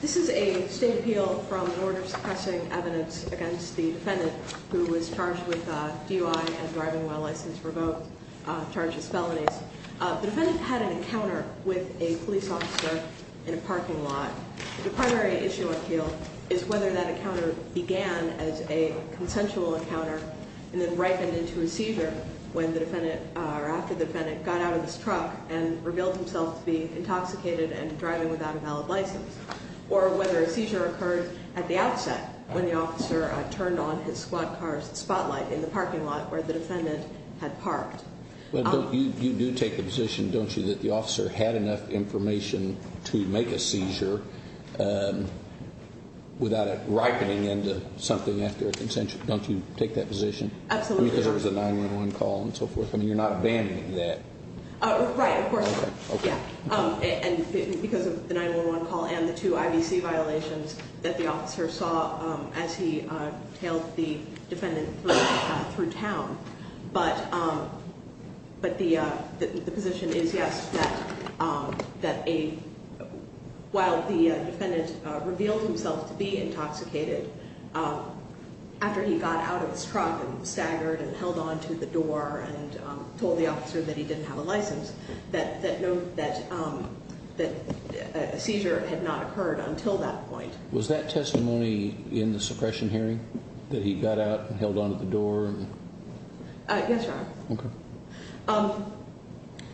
This is a State Appeal from the Order Suppressing Evidence against the Defendant who was charged with DUI and driving while license revoked, charged with felonies. The Defendant had an encounter with a police officer in a parking lot. The primary issue appeal is whether that encounter began as a consensual encounter and then ripened into a seizure when the Defendant, or after the Defendant, got out of his truck and revealed himself to be intoxicated and driving without a valid license. Or whether a seizure occurred at the outset when the officer turned on his squad car's spotlight in the parking lot where the Defendant had parked. You do take the position, don't you, that the officer had enough information to make a seizure without it ripening into something after a consensual encounter. Don't you take that position? Absolutely. Because there was a 911 call and so forth. You're not abandoning that. Right, of course not. Because of the 911 call and the two IBC violations that the officer saw as he tailed the Defendant through town. But the position is, yes, that while the Defendant revealed himself to be intoxicated, after he got out of his truck and staggered and held onto the door and told the officer that he didn't have a license, that a seizure had not occurred until that point. Was that testimony in the suppression hearing? That he got out and held onto the door? Yes, Your Honor. Okay.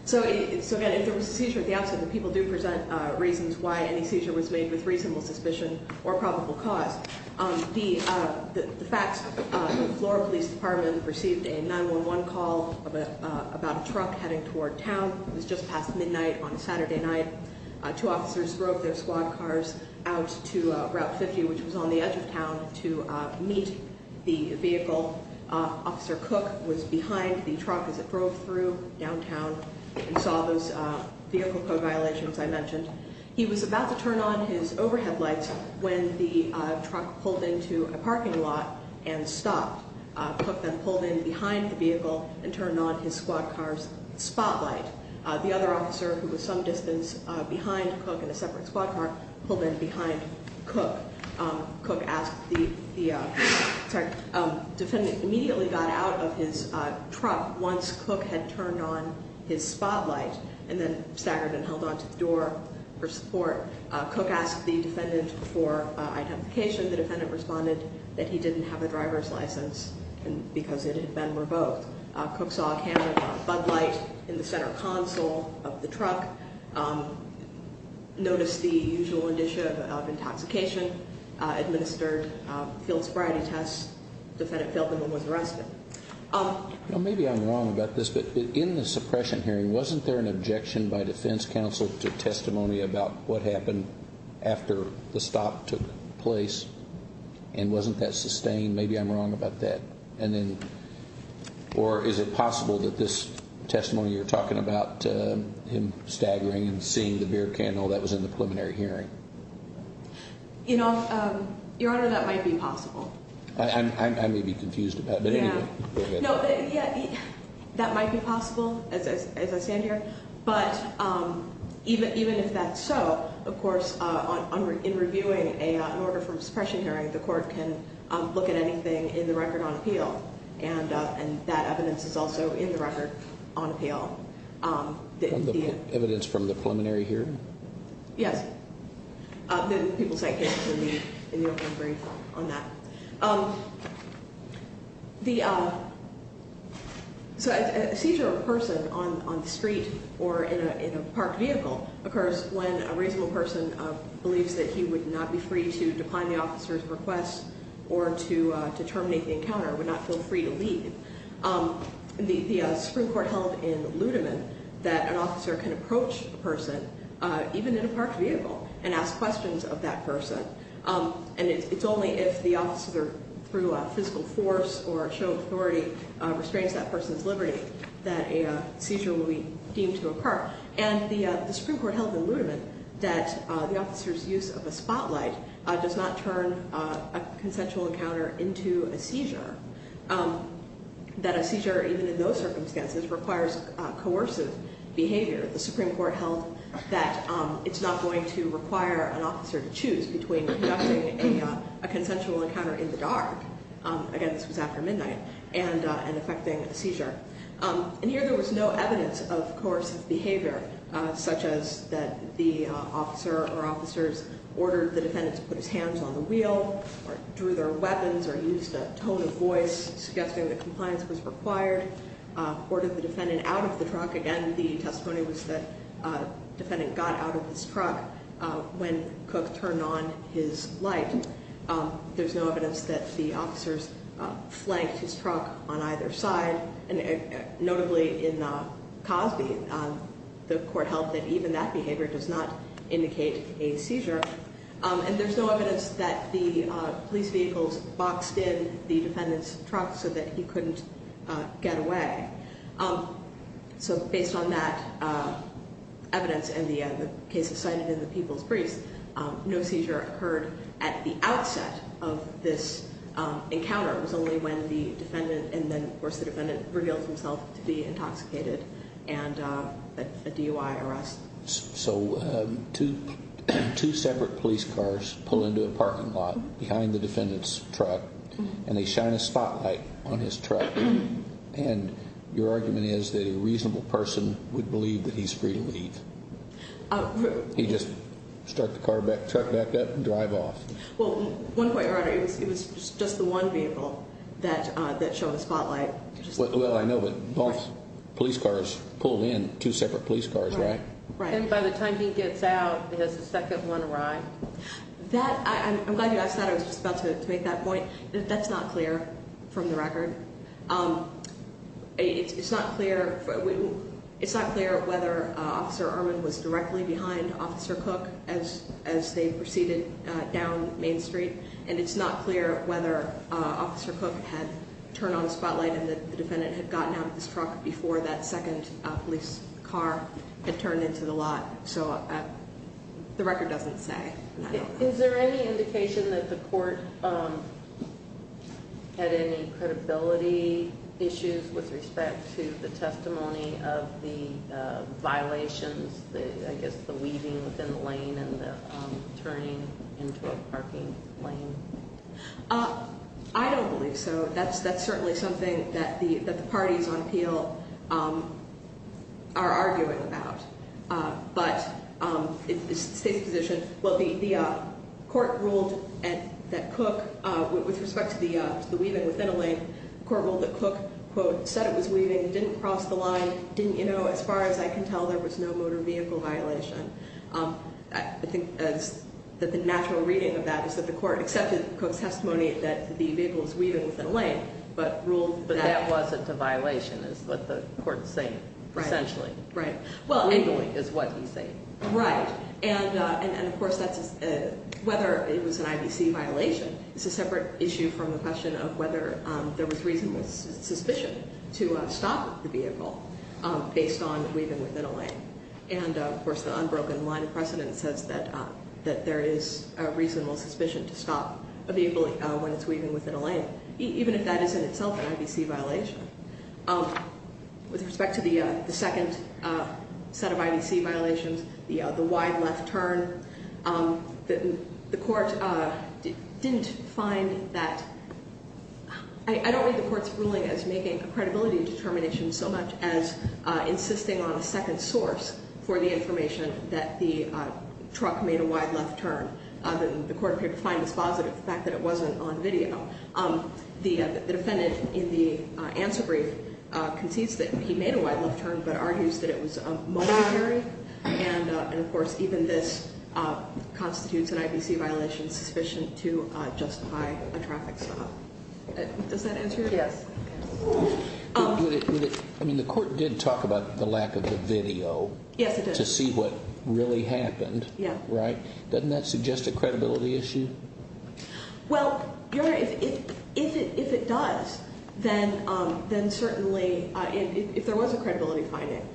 So, again, if there was a seizure at the outset, the people do present reasons why any seizure was made with reasonable suspicion or probable cause. The facts, the Florida Police Department received a 911 call about a truck heading toward town. It was just past midnight on a Saturday night. Two officers drove their squad cars out to Route 50, which was on the edge of town, to meet the vehicle. Officer Cook was behind the truck as it drove through downtown and saw those vehicle code violations I mentioned. He was about to turn on his overhead lights when the truck pulled into a parking lot and stopped. Cook then pulled in behind the vehicle and turned on his squad car's spotlight. The other officer, who was some distance behind Cook in a separate squad car, pulled in behind Cook. Cook immediately got out of his truck once Cook had turned on his spotlight and then staggered and held onto the door for support. Cook asked the defendant for identification. The defendant responded that he didn't have a driver's license because it had been revoked. Cook saw a can of Bud Light in the center console of the truck, noticed the usual indicia of intoxication, administered field sobriety tests. The defendant failed them and was arrested. Maybe I'm wrong about this, but in the suppression hearing, wasn't there an objection by defense counsel to testimony about what happened after the stop took place? And wasn't that sustained? Maybe I'm wrong about that. Or is it possible that this testimony you're talking about him staggering and seeing the beer candle that was in the preliminary hearing? You know, Your Honor, that might be possible. I may be confused about it, but anyway. No, that might be possible, as I stand here. But even if that's so, of course, in reviewing an order from suppression hearing, the court can look at anything in the record on appeal. And that evidence is also in the record on appeal. Evidence from the preliminary hearing? Yes. People cite cases in the open brief on that. So a seizure of a person on the street or in a parked vehicle occurs when a reasonable person believes that he would not be free to decline the officer's request or to terminate the encounter, would not feel free to leave. The Supreme Court held in Ludeman that an officer can approach a person, even in a parked vehicle, and ask questions of that person. And it's only if the officer, through a physical force or a show of authority, restrains that person's liberty that a seizure will be deemed to occur. And the Supreme Court held in Ludeman that the officer's use of a spotlight does not turn a consensual encounter into a seizure, that a seizure, even in those circumstances, requires coercive behavior. The Supreme Court held that it's not going to require an officer to choose between conducting a consensual encounter in the dark, again, this was after midnight, and effecting a seizure. And here there was no evidence of coercive behavior, such as that the officer or officers ordered the defendant to put his hands on the wheel or drew their weapons or used a tone of voice suggesting that compliance was required, ordered the defendant out of the truck. Again, the testimony was that the defendant got out of his truck when Cook turned on his light. There's no evidence that the officers flanked his truck on either side. And notably in Cosby, the court held that even that behavior does not indicate a seizure. And there's no evidence that the police vehicles boxed in the defendant's truck so that he couldn't get away. So based on that evidence and the cases cited in the People's Briefs, no seizure occurred at the outset of this encounter. It was only when the defendant, and then of course the defendant reveals himself to be intoxicated and a DUI arrest. So two separate police cars pull into a parking lot behind the defendant's truck, and they shine a spotlight on his truck. And your argument is that a reasonable person would believe that he's free to leave. He just start the truck back up and drive off. Well, one point, Your Honor, it was just the one vehicle that showed the spotlight. Well, I know, but both police cars pulled in, two separate police cars, right? Right. And by the time he gets out, there's a second one arriving. That, I'm glad you asked that. I was just about to make that point. That's not clear from the record. It's not clear whether Officer Irwin was directly behind Officer Cook as they proceeded down Main Street. And it's not clear whether Officer Cook had turned on the spotlight and the defendant had gotten out of his truck before that second police car had turned into the lot. So the record doesn't say. Is there any indication that the court had any credibility issues with respect to the testimony of the violations, I guess the weaving within the lane and the turning into a parking lane? I don't believe so. That's certainly something that the parties on appeal are arguing about. But it's the State's position. Well, the court ruled that Cook, with respect to the weaving within a lane, the court ruled that Cook, quote, said it was weaving, didn't cross the line, didn't, you know, as far as I can tell, there was no motor vehicle violation. I think that the natural reading of that is that the court accepted Cook's testimony that the vehicle was weaving within a lane, but ruled that But that wasn't a violation is what the court is saying, essentially. Right. Wiggling is what he's saying. Right. And of course, whether it was an IBC violation is a separate issue from the question of whether there was reasonable suspicion to stop the vehicle based on weaving within a lane. And, of course, the unbroken line of precedent says that there is a reasonable suspicion to stop a vehicle when it's weaving within a lane, even if that is in itself an IBC violation. With respect to the second set of IBC violations, the wide left turn, the court didn't find that, I don't read the court's ruling as making a credibility determination so much as insisting on a second source for the information that the truck made a wide left turn. The court could find this positive, the fact that it wasn't on video. The defendant in the answer brief concedes that he made a wide left turn, but argues that it was momentary. And, of course, even this constitutes an IBC violation sufficient to justify a traffic stop. Does that answer your question? Yes. I mean, the court did talk about the lack of the video. Yes, it did. To see what really happened. Yeah. Right? Doesn't that suggest a credibility issue? Well, Your Honor, if it does, then certainly if there was a credibility finding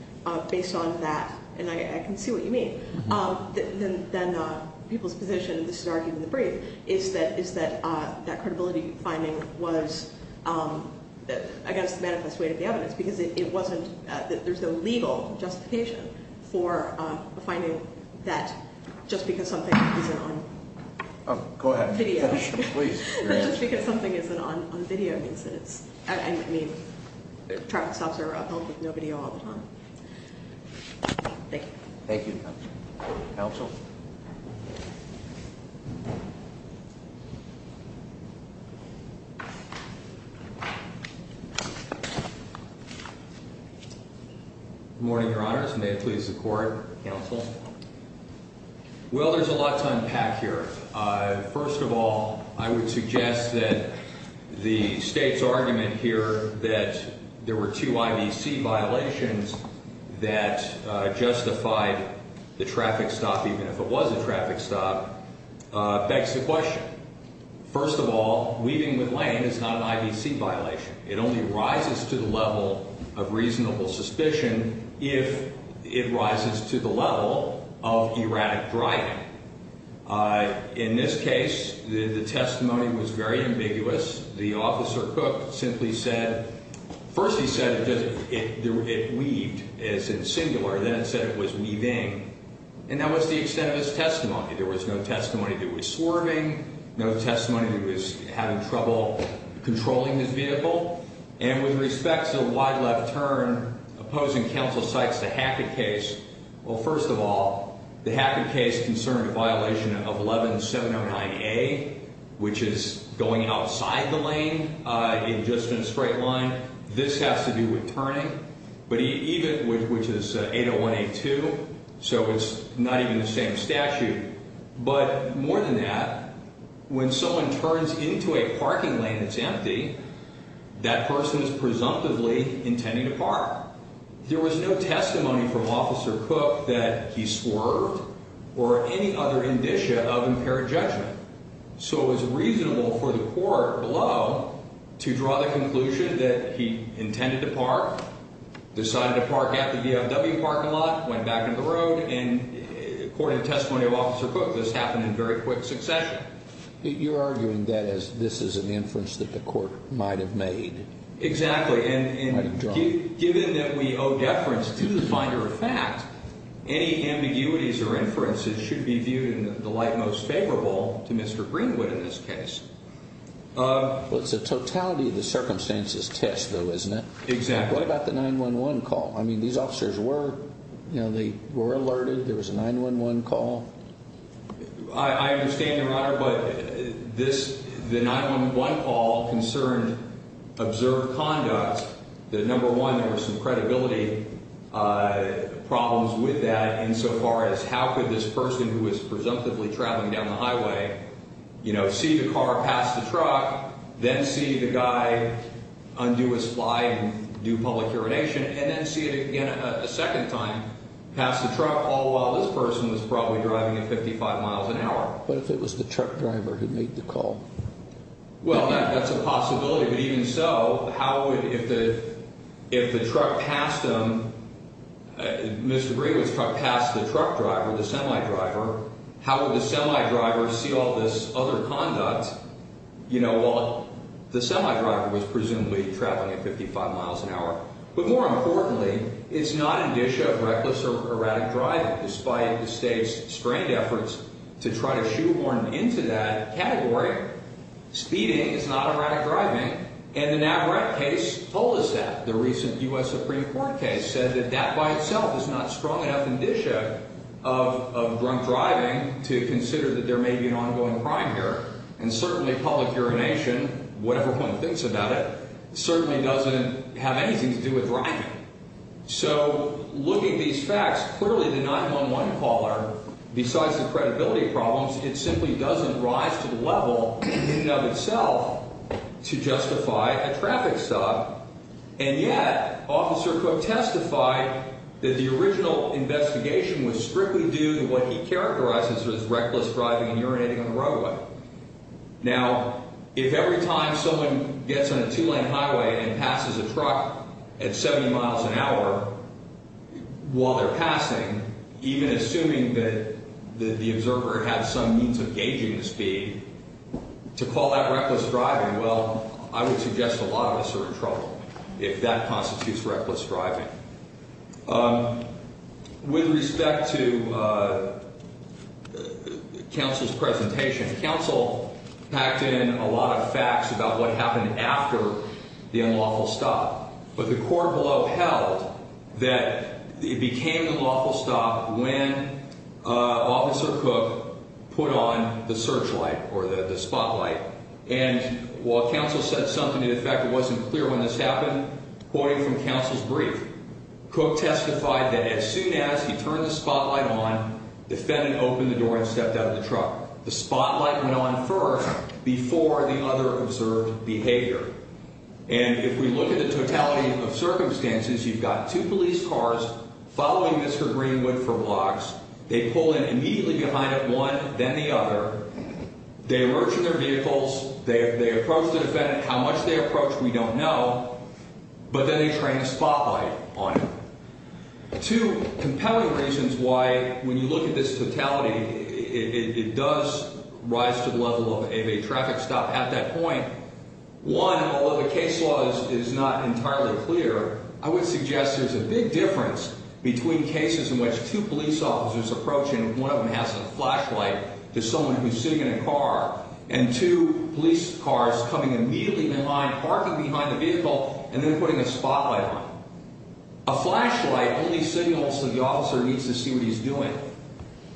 based on that, and I can see what you mean, then people's position, this is argued in the brief, is that that credibility finding was against the manifest weight of the evidence because there's no legal justification for finding that just because something isn't on video. Go ahead. Please. Just because something isn't on video means that it's, I mean, traffic stops are held with no video all the time. Thank you. Thank you. Counsel? Good morning, Your Honors. May it please the Court. Counsel? Well, there's a lot to unpack here. First of all, I would suggest that the State's argument here that there were two IBC violations that justified the traffic stop, even if it was a traffic stop, begs the question. First of all, weaving with land is not an IBC violation. It only rises to the level of reasonable suspicion if it rises to the level of erratic driving. In this case, the testimony was very ambiguous. The officer, Cook, simply said, first he said it weaved as in singular, then it said it was weaving, There was no testimony that it was swerving, no testimony that it was having trouble controlling his vehicle. And with respect to the wide left turn opposing counsel cites the Hackett case, well, first of all, the Hackett case concerned a violation of 11709A, which is going outside the lane in just a straight line. This has to do with turning. Which is 80182, so it's not even the same statute. But more than that, when someone turns into a parking lane that's empty, that person is presumptively intending to park. There was no testimony from Officer Cook that he swerved or any other indicia of impaired judgment. So it was reasonable for the court below to draw the conclusion that he intended to park, decided to park at the VFW parking lot, went back in the road, and according to testimony of Officer Cook, this happened in very quick succession. You're arguing that this is an inference that the court might have made. Exactly, and given that we owe deference to the finder of fact, any ambiguities or inferences should be viewed in the light most favorable to Mr. Greenwood in this case. Well, it's a totality of the circumstances test, though, isn't it? Exactly. What about the 911 call? I mean, these officers were alerted. There was a 911 call. I understand, Your Honor, but the 911 call concerned observed conduct. The number one, there were some credibility problems with that insofar as how could this person who was presumptively traveling down the highway, you know, see the car pass the truck, then see the guy undo his fly and do public urination, and then see it again a second time, pass the truck, all while this person was probably driving at 55 miles an hour. What if it was the truck driver who made the call? Well, that's a possibility. But even so, how if the truck passed him, Mr. Greenwood's truck passed the truck driver, the semi-driver, how would the semi-driver see all this other conduct? You know, the semi-driver was presumably traveling at 55 miles an hour. But more importantly, it's not a dish of reckless or erratic driving. Despite the State's strained efforts to try to shoehorn him into that category, speeding is not erratic driving, and the Navarat case told us that. The recent U.S. Supreme Court case said that that by itself is not strong enough indicia of drunk driving to consider that there may be an ongoing crime here. And certainly public urination, whatever one thinks about it, certainly doesn't have anything to do with driving. So looking at these facts, clearly the 911 caller, besides the credibility problems, it simply doesn't rise to the level in and of itself to justify a traffic stop. And yet, Officer Cook testified that the original investigation was strictly due to what he characterized as reckless driving and urinating on the roadway. Now, if every time someone gets on a two-lane highway and passes a truck at 70 miles an hour while they're passing, even assuming that the observer had some means of gauging the speed, to call that reckless driving, well, I would suggest a lot of us are in trouble if that constitutes reckless driving. With respect to counsel's presentation, counsel packed in a lot of facts about what happened after the unlawful stop. But the court below held that it became the lawful stop when Officer Cook put on the searchlight or the spotlight. And while counsel said something to the effect it wasn't clear when this happened, quoting from counsel's brief, Cook testified that as soon as he turned the spotlight on, the defendant opened the door and stepped out of the truck. The spotlight went on first before the other observed behavior. And if we look at the totality of circumstances, you've got two police cars following Mr. Greenwood for blocks. They pull in immediately behind him, one, then the other. They approach their vehicles. They approach the defendant. How much they approach, we don't know. But then they turn the spotlight on him. Two compelling reasons why, when you look at this totality, it does rise to the level of a traffic stop at that point. One, although the case law is not entirely clear, I would suggest there's a big difference between cases in which two police officers approach and one of them has a flashlight to someone who's sitting in a car and two police cars coming immediately in line, parking behind the vehicle, and then putting a spotlight on him. A flashlight only signals that the officer needs to see what he's doing.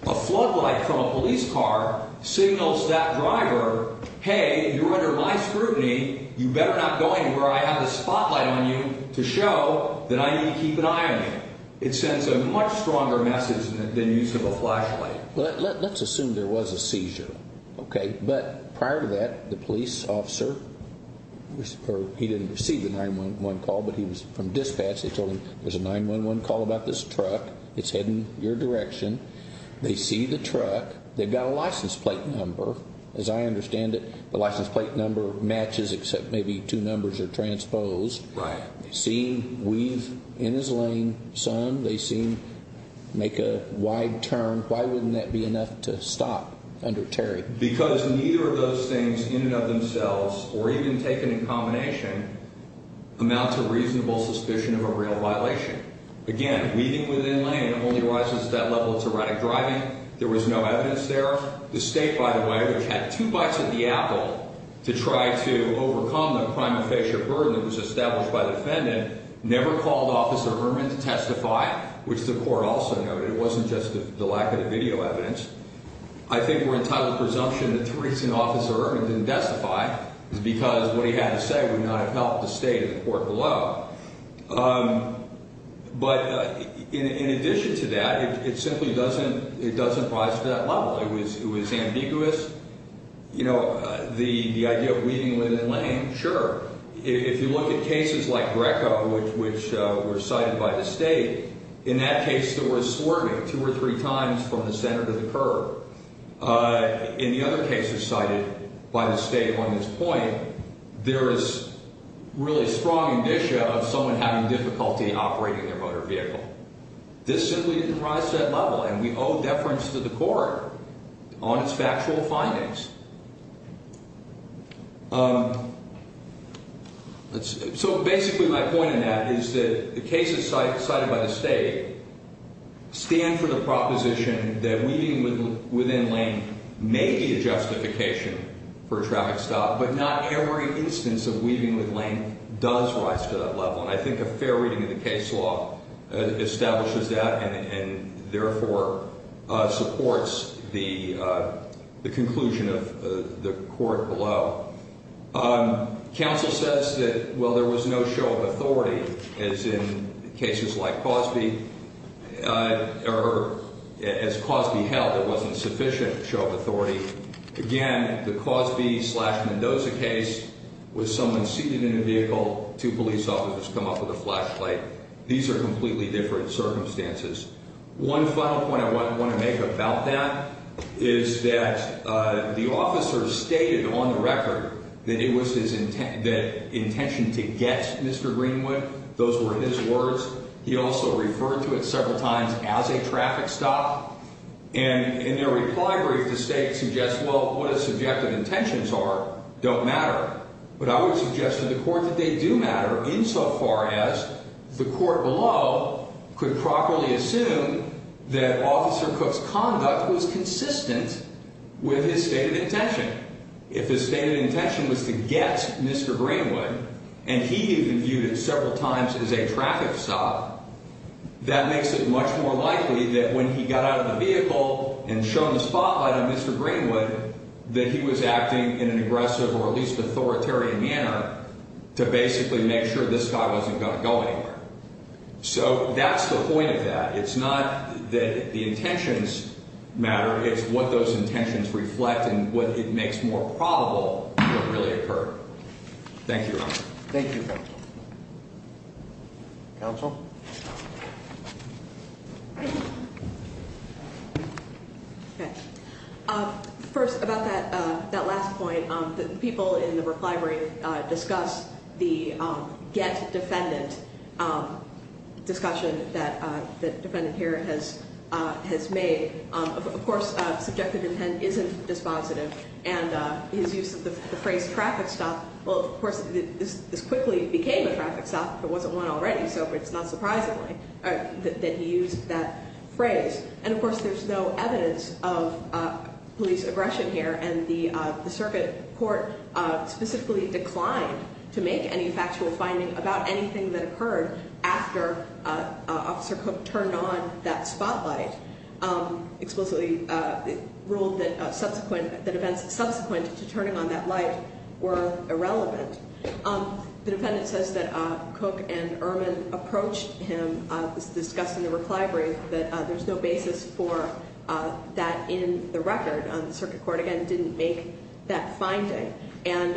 A floodlight from a police car signals that driver, hey, you're under my scrutiny. You better not go anywhere. I have a spotlight on you to show that I need to keep an eye on you. It sends a much stronger message than the use of a flashlight. Let's assume there was a seizure, okay? But prior to that, the police officer, or he didn't receive the 911 call, but he was from dispatch. They told him there's a 911 call about this truck. It's heading your direction. They see the truck. They've got a license plate number. As I understand it, the license plate number matches except maybe two numbers are transposed. Right. They see him weave in his lane, son. They see him make a wide turn. Why wouldn't that be enough to stop under Terry? Because neither of those things in and of themselves, or even taken in combination, amounts to reasonable suspicion of a real violation. Again, weaving within lane only arises at that level of tyrannic driving. There was no evidence there. The state, by the way, which had two bites at the apple to try to overcome the prima facie burden that was established by the defendant, never called Officer Ehrman to testify, which the court also noted. It wasn't just the lack of the video evidence. I think we're entitled to presumption that Theresa and Officer Ehrman didn't testify. It's because what he had to say would not have helped the state or the court below. But in addition to that, it simply doesn't rise to that level. It was ambiguous. You know, the idea of weaving within lane, sure. If you look at cases like Greco, which were cited by the state, in that case there was swerving two or three times from the center to the curb. In the other cases cited by the state on this point, there is really strong indicia of someone having difficulty operating their motor vehicle. This simply didn't rise to that level, and we owe deference to the court on its factual findings. So basically my point in that is that the cases cited by the state stand for the proposition that weaving within lane may be a justification for a traffic stop, but not every instance of weaving within lane does rise to that level. And I think a fair reading of the case law establishes that and therefore supports the conclusion of the court below. Counsel says that, well, there was no show of authority, as in cases like Cosby, or as Cosby held, there wasn't sufficient show of authority. Again, the Cosby-Mendoza case was someone seated in a vehicle, two police officers come up with a flashlight. These are completely different circumstances. One final point I want to make about that is that the officer stated on the record that it was his intention to get Mr. Greenwood. Those were his words. He also referred to it several times as a traffic stop. And in their reply brief, the state suggests, well, what his subjective intentions are don't matter. But I would suggest to the court that they do matter insofar as the court below could properly assume that Officer Cook's conduct was consistent with his stated intention. If his stated intention was to get Mr. Greenwood, and he even viewed it several times as a traffic stop, that makes it much more likely that when he got out of the vehicle and shown the spotlight on Mr. Greenwood, that he was acting in an aggressive or at least authoritarian manner to basically make sure this guy wasn't going to go anywhere. So that's the point of that. It's not that the intentions matter. It's what those intentions reflect and what it makes more probable to really occur. Thank you, Your Honor. Thank you, counsel. Counsel? First, about that last point, the people in the Brook Library discussed the get defendant discussion that the defendant here has made. Of course, subjective intent isn't dispositive. And his use of the phrase traffic stop, well, of course, this quickly became a traffic stop. There wasn't one already, so it's not surprising that he used that phrase. And, of course, there's no evidence of police aggression here. And the circuit court specifically declined to make any factual finding about anything that occurred after Officer Cook turned on that spotlight, explicitly ruled that events subsequent to turning on that light were irrelevant. The defendant says that Cook and Ehrman approached him. It was discussed in the Brook Library that there's no basis for that in the record. The circuit court, again, didn't make that finding. And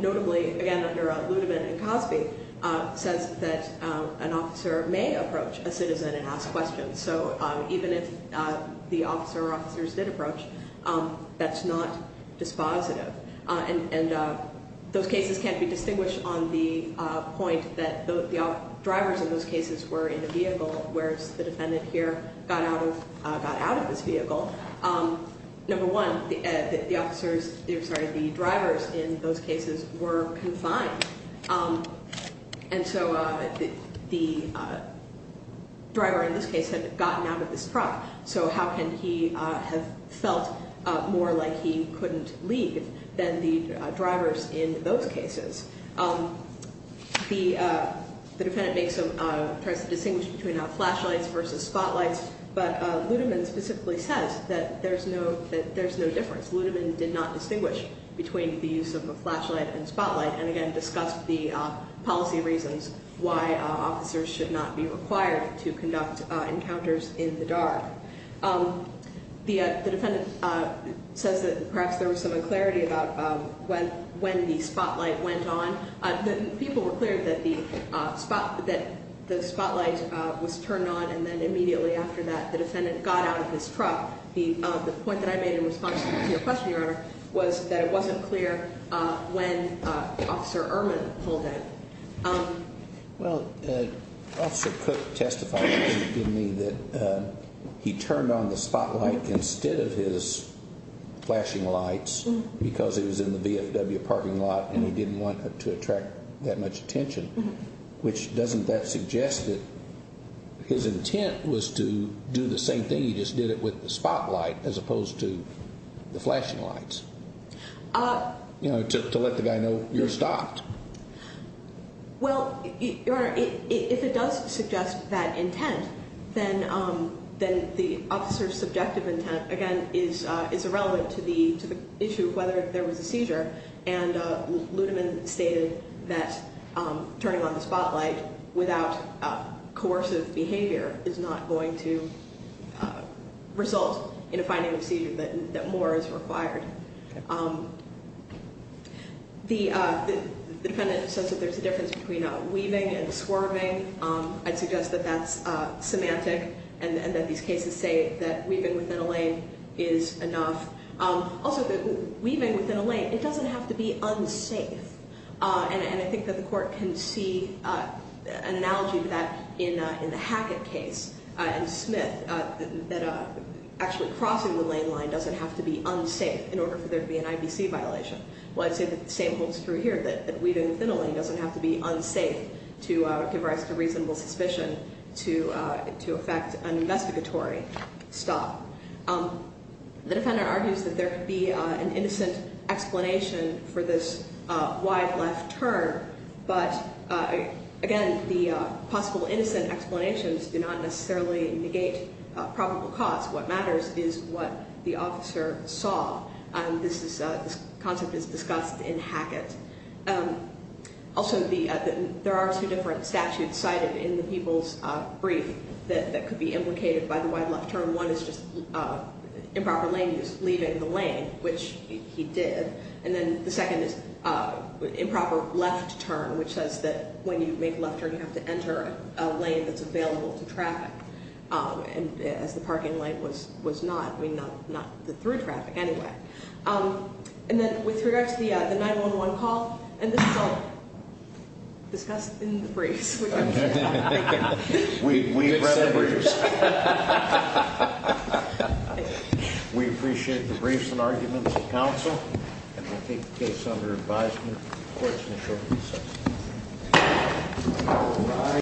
notably, again, under Ludeman and Cosby, says that an officer may approach a citizen and ask questions. So even if the officer or officers did approach, that's not dispositive. And those cases can't be distinguished on the point that the drivers in those cases were in the vehicle, whereas the defendant here got out of this vehicle. Number one, the drivers in those cases were confined. And so the driver in this case had gotten out of this truck. So how can he have felt more like he couldn't leave than the drivers in those cases? The defendant tries to distinguish between flashlights versus spotlights. But Ludeman specifically says that there's no difference. Ludeman did not distinguish between the use of a flashlight and spotlight, and again, discussed the policy reasons why officers should not be required to conduct encounters in the dark. The defendant says that perhaps there was some unclarity about when the spotlight went on. People were clear that the spotlight was turned on, and then immediately after that, the defendant got out of his truck. The point that I made in response to your question, Your Honor, was that it wasn't clear when Officer Ehrman pulled in. Well, Officer Cook testified to me that he turned on the spotlight instead of his flashing lights because he was in the VFW parking lot and he didn't want to attract that much attention, which doesn't that suggest that his intent was to do the same thing? He just did it with the spotlight as opposed to the flashing lights, you know, to let the guy know you're stopped. Well, Your Honor, if it does suggest that intent, then the officer's subjective intent, again, is irrelevant to the issue of whether there was a seizure. And Ludeman stated that turning on the spotlight without coercive behavior is not going to result in a finding of seizure, that more is required. The defendant says that there's a difference between weaving and swerving. I'd suggest that that's semantic and that these cases say that weaving within a lane is enough. Also, weaving within a lane, it doesn't have to be unsafe. And I think that the Court can see an analogy to that in the Hackett case and Smith, that actually crossing the lane line doesn't have to be unsafe in order for there to be an IBC violation. Well, I'd say that the same holds true here, that weaving within a lane doesn't have to be unsafe to give rise to reasonable suspicion to affect an investigatory stop. The defendant argues that there could be an innocent explanation for this wide left turn, but, again, the possible innocent explanations do not necessarily negate probable cause. What matters is what the officer saw. This concept is discussed in Hackett. Also, there are two different statutes cited in the people's brief that could be implicated by the wide left turn. One is just improper lane use, leaving the lane, which he did. And then the second is improper left turn, which says that when you make a left turn, you have to enter a lane that's available to traffic, as the parking lane was not. I mean, not through traffic anyway. And then with regard to the 911 call, and this is all discussed in the briefs. We've read the briefs. We appreciate the briefs and arguments of counsel. And I take the case under advisement of the courts in the short recess.